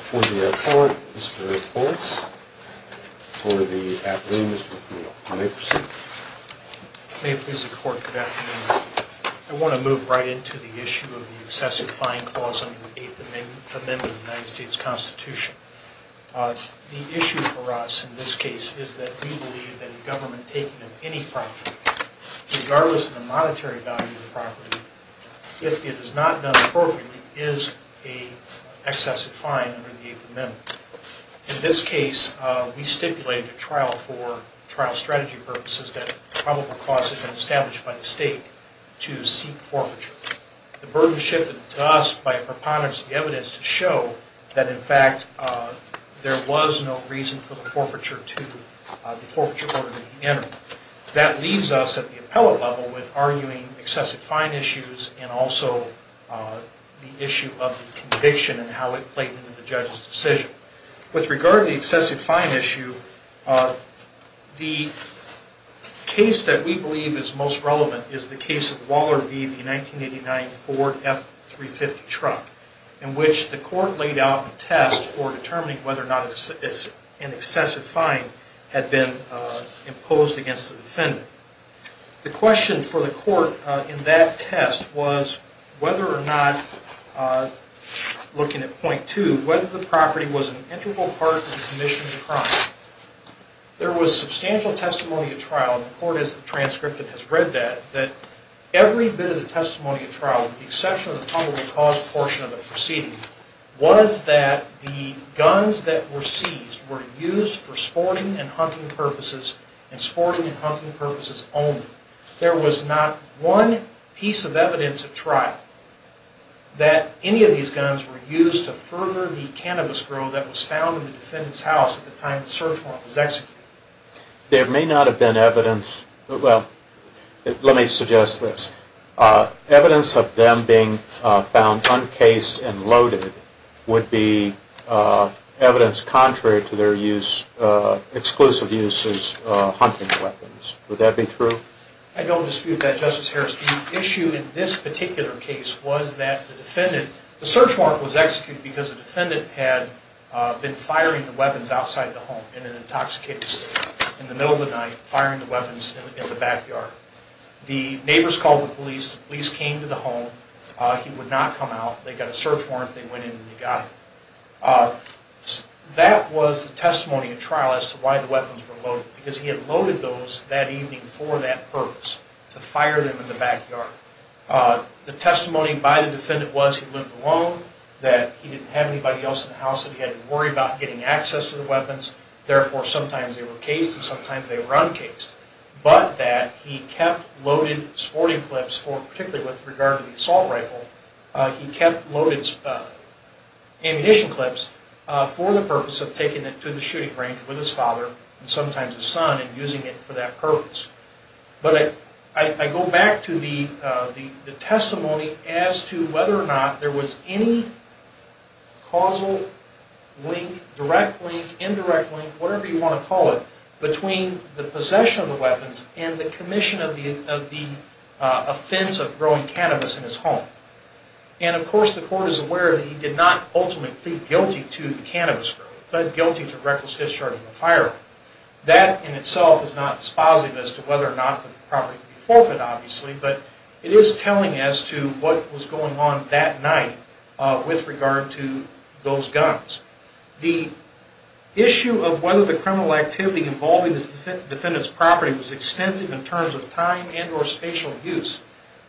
for the appellate, Mr. O'Neill. May I proceed? May it please the court, good afternoon. I want to move right into the issue of the excessive fine clause under the 8th Amendment of the United States Constitution. The issue for us in this case is that we believe that a not done appropriately is an excessive fine under the 8th Amendment. In this case, we stipulated a trial for trial strategy purposes that probable cause had been established by the state to seek forfeiture. The burden shifted to us by a preponderance of the evidence to show that in fact there was no reason for the forfeiture order to be entered. That leaves us at the appellate level with arguing excessive fine issues and also the issue of conviction and how it played into the judge's decision. With regard to the excessive fine issue, the case that we believe is most relevant is the case of Waller v. the 1989 Ford F-350 truck in which the court laid out a test for determining whether or not an excessive fine had been imposed against the defendant. The question for the court in that test was whether or not, looking at point two, whether the property was an integral part of the commission of the crime. There was substantial testimony at trial, and the court has the transcript and has read that, that every bit of the testimony at trial, with the exception of the probable cause portion of the proceeding, was that the guns that were seized were used for sporting and hunting purposes and sporting and hunting purposes only. There was not one piece of evidence at trial that any of these guns were used to further the cannabis grow that was found in the defendant's house at the time the search warrant was executed. There may not have been evidence, well, let me suggest this. Evidence of them being found uncased and loaded would be evidence contrary to their use, exclusive use as hunting weapons. Would that be true? I don't dispute that, Justice Harris. The issue in this particular case was that the defendant, the search warrant was executed because the defendant had been firing the weapons outside the home in an intoxicated state in the middle of the night, firing the weapons in the backyard. The neighbors called the police. The police came to the home. He would not come out. They got a search warrant. They went in and they got him. That was the testimony at trial as to why the weapons were loaded, because he had loaded those that evening for that purpose, to fire them in the backyard. The testimony by the defendant was he lived alone, that he didn't have anybody else in the house that he had to worry about getting access to the weapons, therefore sometimes they were cased and sometimes they were uncased, but that he kept loaded sporting clips for, particularly with regard to the assault rifle, he kept loaded ammunition clips for the purpose of taking it to the shooting range with his father and sometimes his son and using it for that purpose. But I go back to the testimony as to whether or not there was any causal link, direct link, indirect link, whatever you want to call it, between the possession of the weapons and the commission of the offense of growing cannabis in his home. And of course the court is aware that he did not ultimately plead guilty to the cannabis growing, but guilty to reckless discharge of a firearm. That in itself is not dispositive as to whether or not the property could be forfeit, obviously, but it is telling as to what was going on that night with regard to those guns. The issue of whether the criminal activity involving the defendant's property was extensive in terms of time and or spatial use.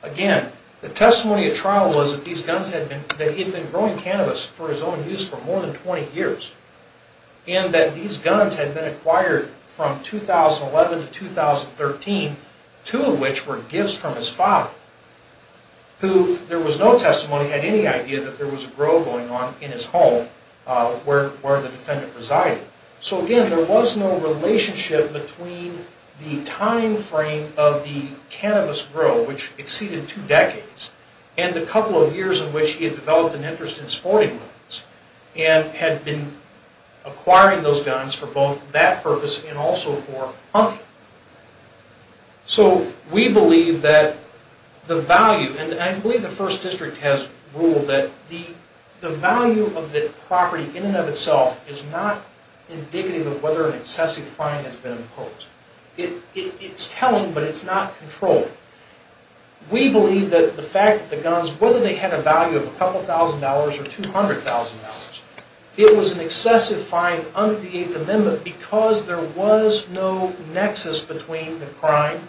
Again, the testimony at trial was that these guns had been, that he had been growing cannabis for his own use for more than 20 years and that these guns had been acquired from 2011 to 2013, two of which were gifts from his father, who there was no testimony, had any idea that there was a grow going on in his home where the defendant resided. So again, there was no relationship between the time frame of the cannabis grow, which exceeded two decades, and the couple of years in which he had developed an interest in sporting weapons and had been acquiring those guns for both that purpose and also for hunting. So we believe that the value, and I believe the First District has ruled that the value of the property in and of itself is not indicative of whether an excessive fine has been imposed. It's telling, but it's not controlling. We believe that the fact that the guns, whether they had a value of a couple thousand dollars or $200,000, it was an excessive fine under the Eighth Amendment because there was no nexus between the crime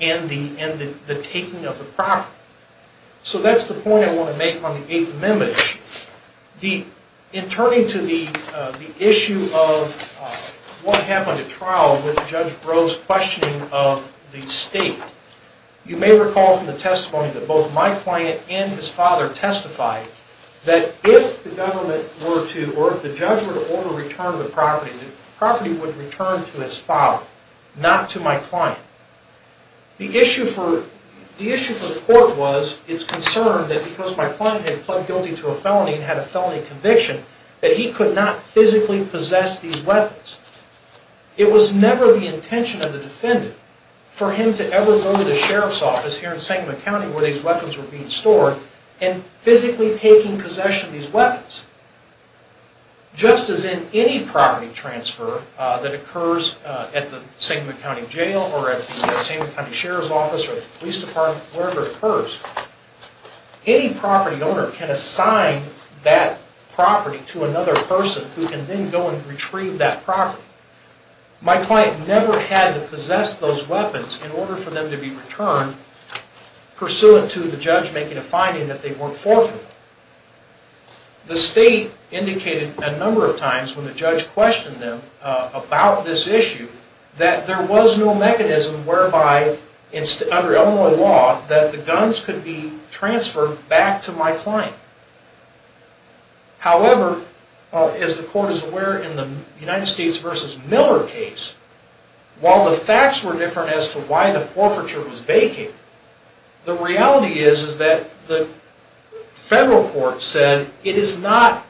and the taking of the property. So that's the point I want to make on the Eighth Amendment. In turning to the issue of what happened at trial with Judge Breaux's questioning of the state, you may recall from the testimony that both my client and his father testified that if the government were to, or if the judge were to order a return of the property, the property would return to his father, not to my client. The issue for the court was its concern that because my client had pled guilty to a felony and had a felony conviction, that he could not physically possess these weapons. It was never the intention of the defendant for him to ever go to the sheriff's office here in Sangamon County where these weapons were being stored and physically taking possession of these weapons. Just as in any property transfer that occurs at the Sangamon County Jail or at the Sangamon County Sheriff's Office or the police department, wherever it occurs, any property owner can assign that property to another person who can then go and retrieve that property. My client never had to possess those weapons in order for them to be returned pursuant to the judge making a finding that they weren't forfeitable. The state indicated a number of times when the judge questioned them about this issue that there was no mechanism whereby, under Illinois law, that the guns could be transferred back to my client. However, as the court is aware in the United States v. Miller case, while the facts were different as to why the forfeiture was vacant, the reality is that the federal court said it is not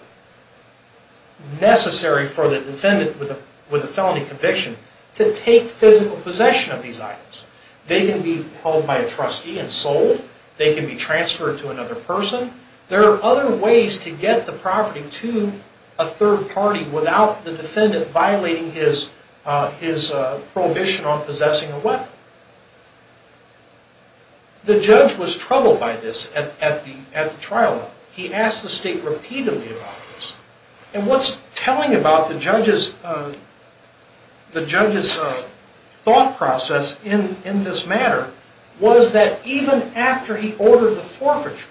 necessary for the defendant with a felony conviction to take physical possession of these items. They can be held by a trustee and sold. They can be transferred to another person. There are other ways to get the property to a third party without the defendant violating his prohibition on possessing a weapon. The judge was troubled by this at the trial. He asked the state repeatedly about this. And what's telling about the judge's thought process in this matter was that even after he ordered the forfeiture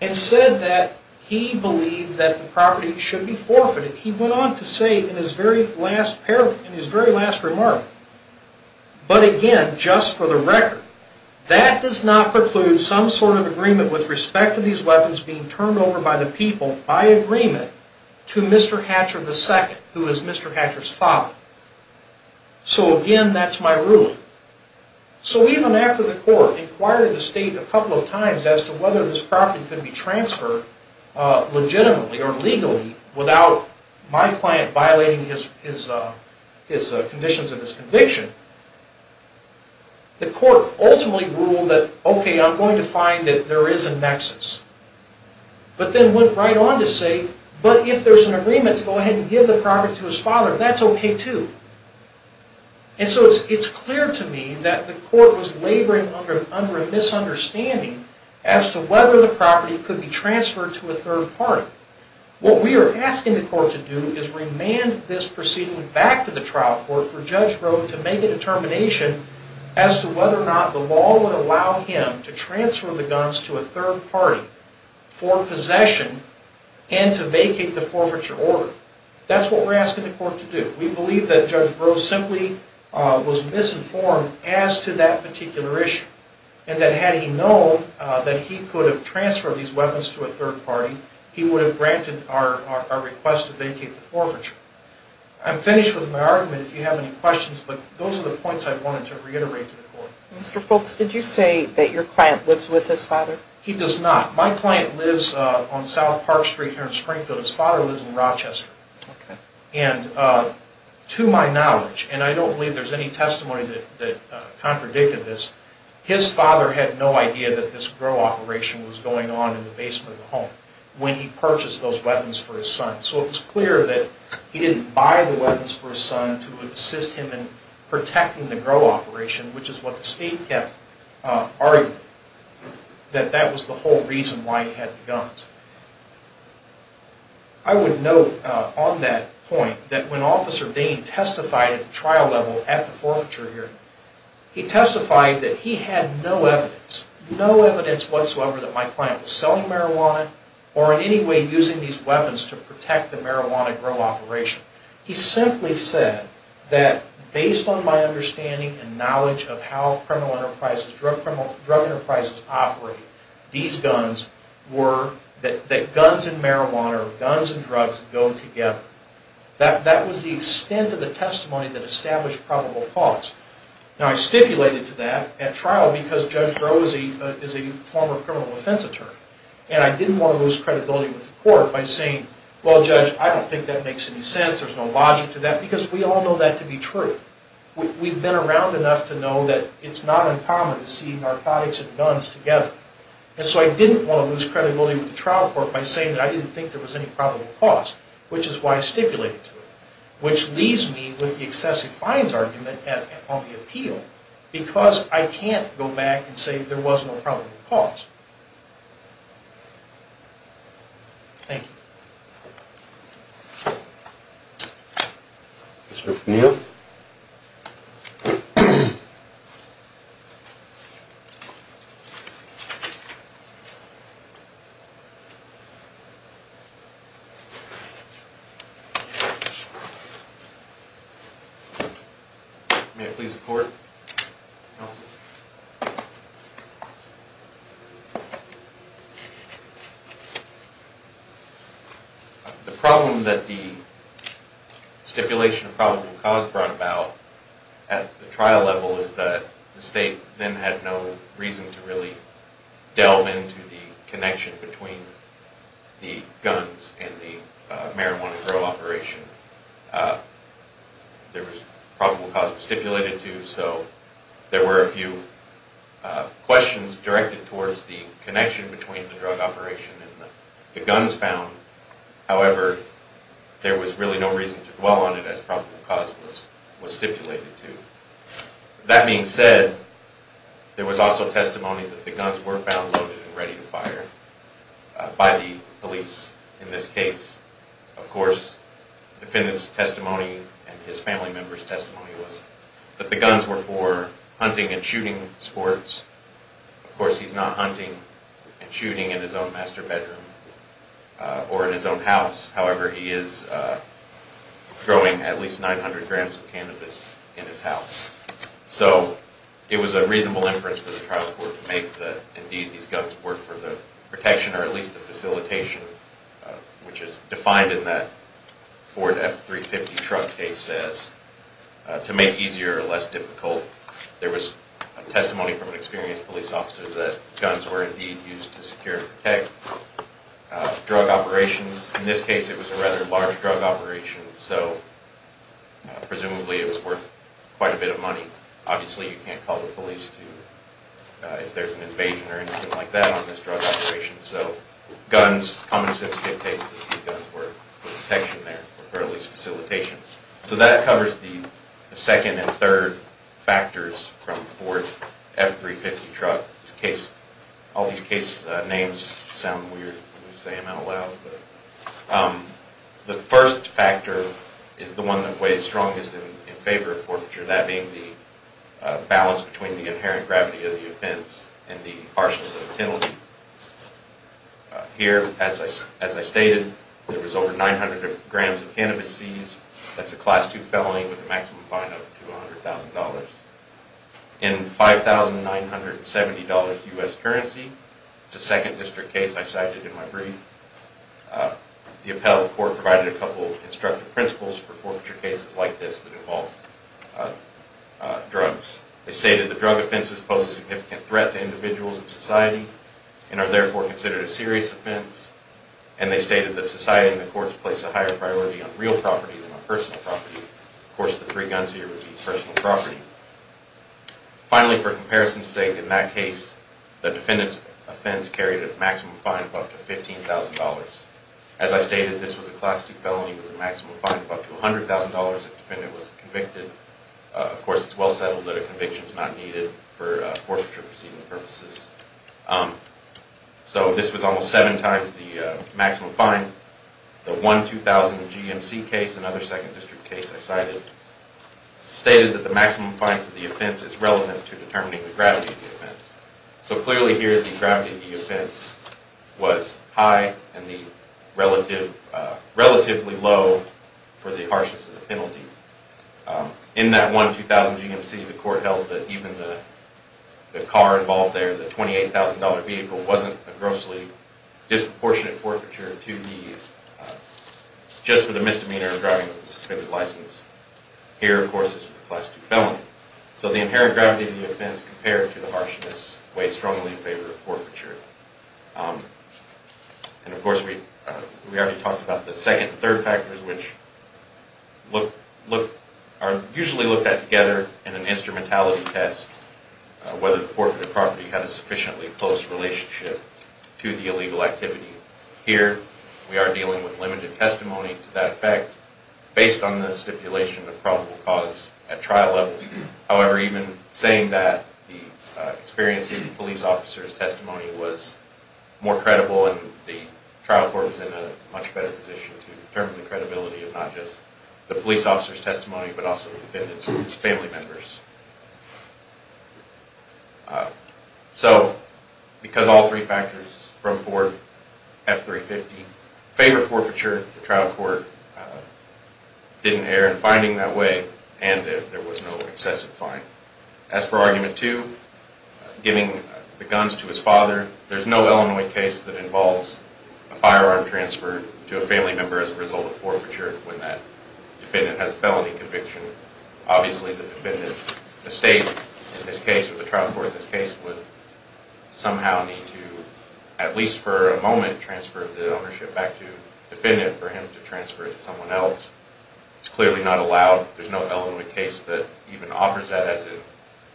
and said that he believed that the property should be forfeited, he went on to say in his very last parable, in his very last remark, but again just for the record, that does not preclude some sort of agreement with respect to these weapons being turned over by the people by agreement to Mr. Hatcher II, who is Mr. Hatcher's father. So again, that's my ruling. So even after the court inquired the state a couple of times as to whether this property could be transferred legitimately or legally without my client violating his conditions of his conviction, the court ultimately ruled that, okay, I'm going to find that there is a nexus. But then went right on to say, but if there's an agreement to go ahead and give the property to his father, that's okay too. And so it's clear to me that the court was laboring under a misunderstanding as to whether the property could be transferred to a third party. What we are asking the court to do is remand this proceeding back to the trial court for Judge Breaux to make a determination as to whether or not the law would allow him to transfer the guns to a third party for possession and to vacate the forfeiture order. That's what we're asking the court to do. We believe that Judge Breaux simply was misinformed as to that particular issue and that had he known that he could have transferred these guns to a third party, he would have granted our request to vacate the forfeiture. I'm finished with my argument if you have any questions, but those are the points I wanted to reiterate to the court. Mr. Fultz, did you say that your client lives with his father? He does not. My client lives on South Park Street here in Springfield. His father lives in Rochester. And to my knowledge, and I don't believe there's any testimony that contradicted this, his father had no idea that this Breaux operation was going on in the basement of the home when he purchased those weapons for his son. So it was clear that he didn't buy the weapons for his son to assist him in protecting the Breaux operation, which is what the state kept arguing, that that was the whole reason why he had the guns. I would note on that point that when Officer Dane testified at the trial level at the forfeiture hearing, he testified that he had no evidence, no evidence whatsoever that my client was selling marijuana or in any way using these weapons to protect the marijuana Breaux operation. He simply said that based on my understanding and knowledge of how criminal enterprises, drug enterprises operate, these guns were, that guns and marijuana or guns and drugs go together. That was the extent of the testimony that established probable cause. Now I stipulated to that at trial because Judge Breaux is a former criminal offense attorney. And I didn't want to lose credibility with the court by saying, well Judge, I don't think that makes any sense, there's no logic to that, because we all know that to be true. We've been around enough to know that it's not uncommon to see narcotics and guns together. And so I didn't want to lose credibility with the trial court by saying that I didn't think there was any probable cause, which is why I stipulated to it. Which leaves me with the excessive fines argument on the appeal, because I can't go back and say there was no probable cause. Thank you. Mr. O'Neill. May I please report? No. The problem that the stipulation of probable cause brought about at the trial level is that the state then had no reason to really delve into the connection between the guns and the marijuana grow operation. There was probable cause stipulated to, so there were a few questions directed towards the connection between the drug operation and the guns found. However, there was really no reason to dwell on it as probable cause was stipulated to. That being said, there was also testimony that the guns were found loaded and ready to fire by the police in this case. Of course, the defendant's testimony and his family member's testimony was that the guns were for hunting and shooting sports. Of course he's not hunting and shooting in his own master bedroom or in his own house. However, he is throwing at least 900 grams of cannabis in his house. So it was a reasonable inference for the trial court to make that indeed these guns were for the protection or at least the facilitation, which is defined in that Ford F350 truck case as to make easier or less difficult. There was testimony from an experienced police officer that guns were indeed used to secure and protect drug operations. In this case it was a rather large drug operation, so presumably it was worth quite a bit of money. Obviously you can't call the police if there's an invasion or anything like that on this drug operation. So guns, common sense dictates that these guns were for protection there or for at least facilitation. So that covers the second and third factors from Ford F350 truck case. All these case names sound weird when you say them out loud. The first factor is the one that weighs strongest in favor of forfeiture, that being the balance between the inherent gravity of the offense and the harshness of the penalty. Here, as I stated, there was over 900 grams of cannabis seized. That's a Class II felony with a maximum fine of $200,000. In $5,970 U.S. currency, the second district case I cited in my brief, the appellate court provided a couple of instructive principles for forfeiture cases like this that involve drugs. They stated the drug offenses pose a significant threat to individuals and society and are therefore considered a serious offense. And they stated that society and the courts place a higher priority on real property than on personal property. Of course, the three guns here would be personal property. Finally, for comparison's sake, in that case, the defendant's offense carried a maximum fine of up to $15,000. As I stated, this was a Class II felony with a maximum fine of up to $100,000 if the defendant was convicted. Of course, it's well settled that conviction is not needed for forfeiture proceeding purposes. So this was almost seven times the maximum fine. The $1,200 GMC case, another second district case I cited, stated that the maximum fine for the offense is relevant to determining the gravity of the offense. So clearly here, the gravity of the offense was high and relatively low for the harshness of the penalty. In that $1,200 GMC, the court held that even the car involved there, the $28,000 vehicle, wasn't a grossly disproportionate forfeiture just for the misdemeanor of driving with a suspended license. Here, of course, this was a Class II felony. So the inherent gravity of the offense compared to the harshness weighs strongly in favor of forfeiture. And of course, we already talked about the second and third factors, which are usually looked at together in an instrumentality test, whether the forfeited property had a sufficiently close relationship to the illegal activity. Here, we are dealing with limited testimony to that effect based on the stipulation of probable cause at trial level. However, even saying that the experience of the police officer's testimony was more credible and the trial court was in a much better position to determine the credibility of not just the police officer's testimony but also the defendant's family members. So, because all three factors from Ford, F-350, favor forfeiture, the trial court didn't err in finding that way and there was no excessive fine. As for Argument 2, giving the guns to his father, there's no Illinois case that involves a firearm transfer to a family member as a result of forfeiture when that defendant has a felony conviction. Obviously, the defendant, the state, in this case, or the trial court in this case, would somehow need to, at least for a moment, transfer the ownership back to the defendant for him to transfer it to someone else. It's clearly not allowed. There's no Illinois case that even offers that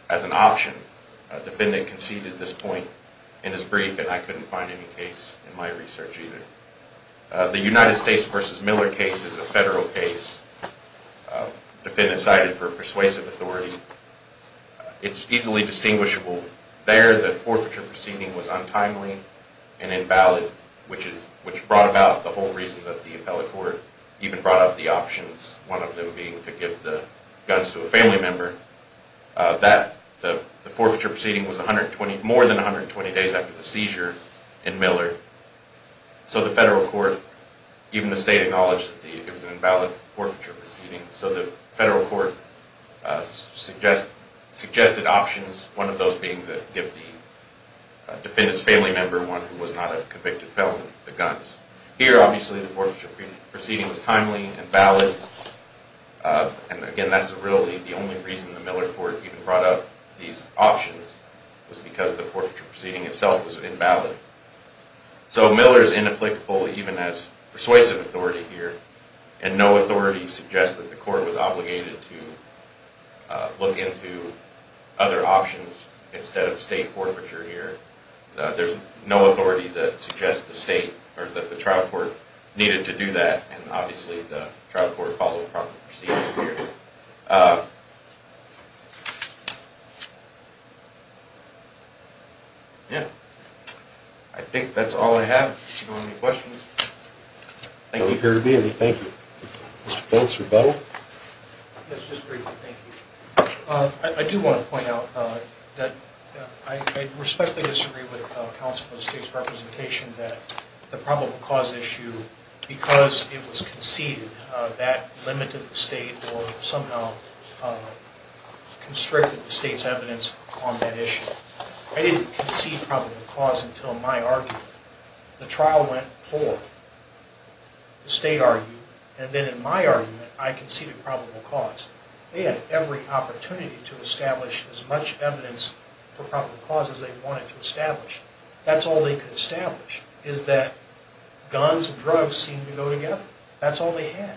as an option. The defendant conceded this point in his brief and I couldn't find any case in my research either. The United States v. Miller case is a federal case. The defendant cited for persuasive authority. It's easily distinguishable. There, the forfeiture proceeding was untimely and invalid, which brought about the whole reason that the appellate court even brought up the options, one of them being to give the guns to a family member. The forfeiture proceeding was more than 120 days after the seizure in Miller. So the federal court, even the state, acknowledged that it was an invalid forfeiture proceeding. So the federal court suggested options, one of those being to give the defendant's family member, one who was not a convicted felon, the guns. Here, obviously, the forfeiture proceeding was timely, invalid, and again, that's really the only reason the Miller court even brought up these options, was because the forfeiture proceeding itself was invalid. So Miller's inapplicable even as persuasive authority here, and no authority suggests that the court was obligated to look into other options instead of state forfeiture here. There's no authority that suggests the state, or that the trial court, needed to do that, and obviously the trial court followed proper procedures here. Yeah. I think that's all I have. If you have any questions, thank you. Mr. Fultz, rebuttal? Yes, just briefly, thank you. I do want to point out that I respectfully disagree with counsel of the state's representation that the probable cause issue, because it was conceded, that limited the state or somehow constricted the state's evidence on that issue. I didn't concede probable cause until my argument. The trial went forth, the state argued, and then in my argument, I conceded probable cause. They had every opportunity to establish as much evidence for probable cause as they wanted to establish. That's all they could establish, is that guns and drugs seemed to go together. That's all they had.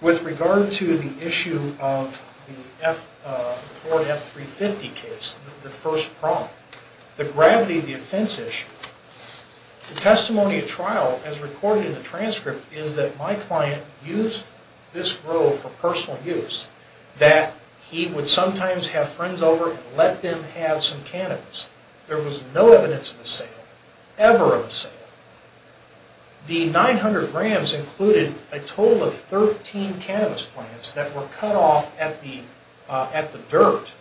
With regard to the issue of the Ford F-350 case, the first problem, the gravity of the offense issue, the testimony of trial, as recorded in the transcript, is that my client used this grove for personal use, that he would sometimes have friends over and let them have some cannabis. There was no evidence of a sale, ever of a sale. The 900 grams included a total of 13 cannabis plants that were cut off at the dirt,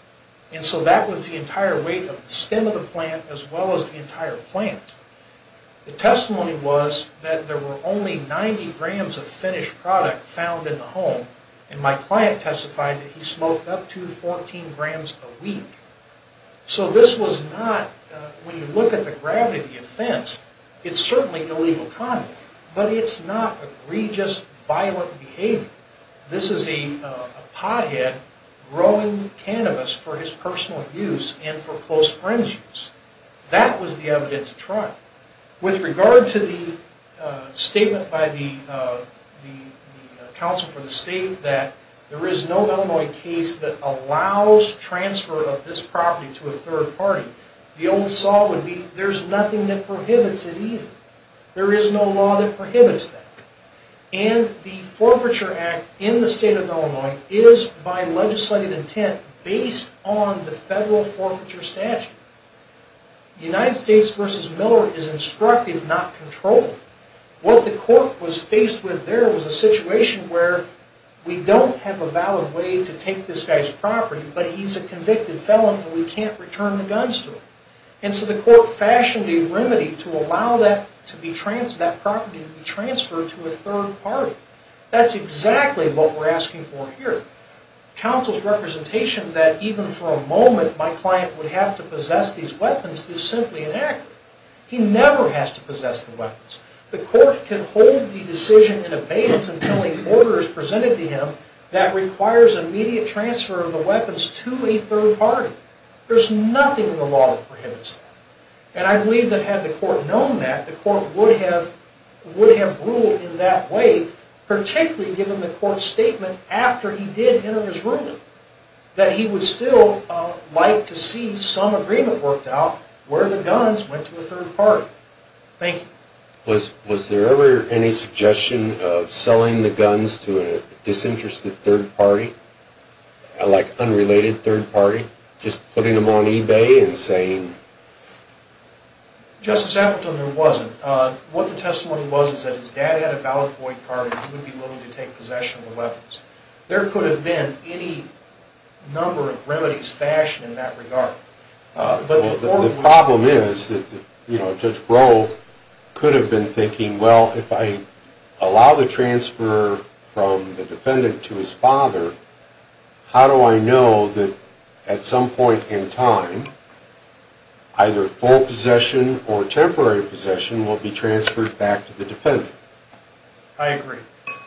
and so that was the entire weight of the stem of the plant as well as the entire plant. The testimony was that there were only 90 grams of finished product found in the home, and my client testified that he smoked up to 14 grams a week. So this was not, when you look at the gravity of the offense, it's this is a pothead growing cannabis for his personal use and for close friends' use. That was the evidence of trial. With regard to the statement by the Counsel for the State that there is no Illinois case that allows transfer of this property to a third party, the old saw would be there's nothing that prohibits it either. There is no law that is by legislative intent based on the federal forfeiture statute. United States v. Miller is instructive, not controlled. What the court was faced with there was a situation where we don't have a valid way to take this guy's property, but he's a convicted felon and we can't return the guns to him. And so the court fashioned a remedy to allow that property to be transferred to a third party. That's exactly what we're asking for here. Counsel's representation that even for a moment my client would have to possess these weapons is simply inaccurate. He never has to possess the weapons. The court can hold the decision in abeyance until an order is presented to him that requires immediate transfer of the weapons to a third party. There's nothing in the law that prohibits that. And I believe that had the court known that, the court would have ruled in that way, particularly given the court's statement after he did enter his ruling, that he would still like to see some agreement worked out where the guns went to a third party. Thank you. Was there ever any suggestion of selling the guns to a disinterested third party, like What the testimony was is that his dad had a valid point card and he would be willing to take possession of the weapons. There could have been any number of remedies fashioned in that regard. The problem is that Judge Groh could have been thinking, well, if I allow the transfer from the defendant to his father, how do I know that at some point in his possession will be transferred back to the defendant? I agree.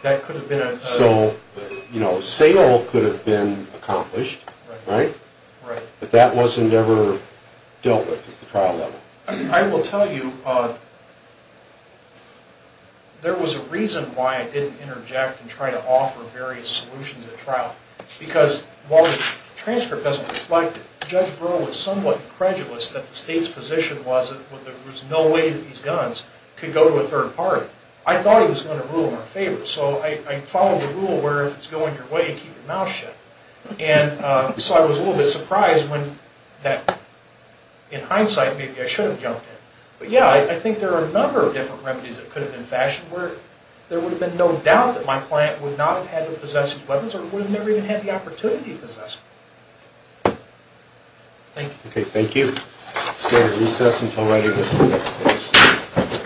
That could have been a... So, you know, sale could have been accomplished, right? Right. But that wasn't ever dealt with at the trial level. I will tell you, there was a reason why I didn't interject and try to offer various solutions at trial. Because while the transcript doesn't reflect it, Judge Groh was somewhat credulous that the state's position was that there was no way that these guns could go to a third party. I thought he was going to rule in our favor. So I followed the rule where if it's going your way, keep your mouth shut. And so I was a little bit surprised when that, in hindsight, maybe I should have jumped in. But yeah, I think there are a number of different remedies that could have been fashioned where there would have been no doubt that my client would not have had to possess these weapons or would have never even had the opportunity to possess them. Thank you. Okay, thank you. Let's go to recess. Until later, this is the next case.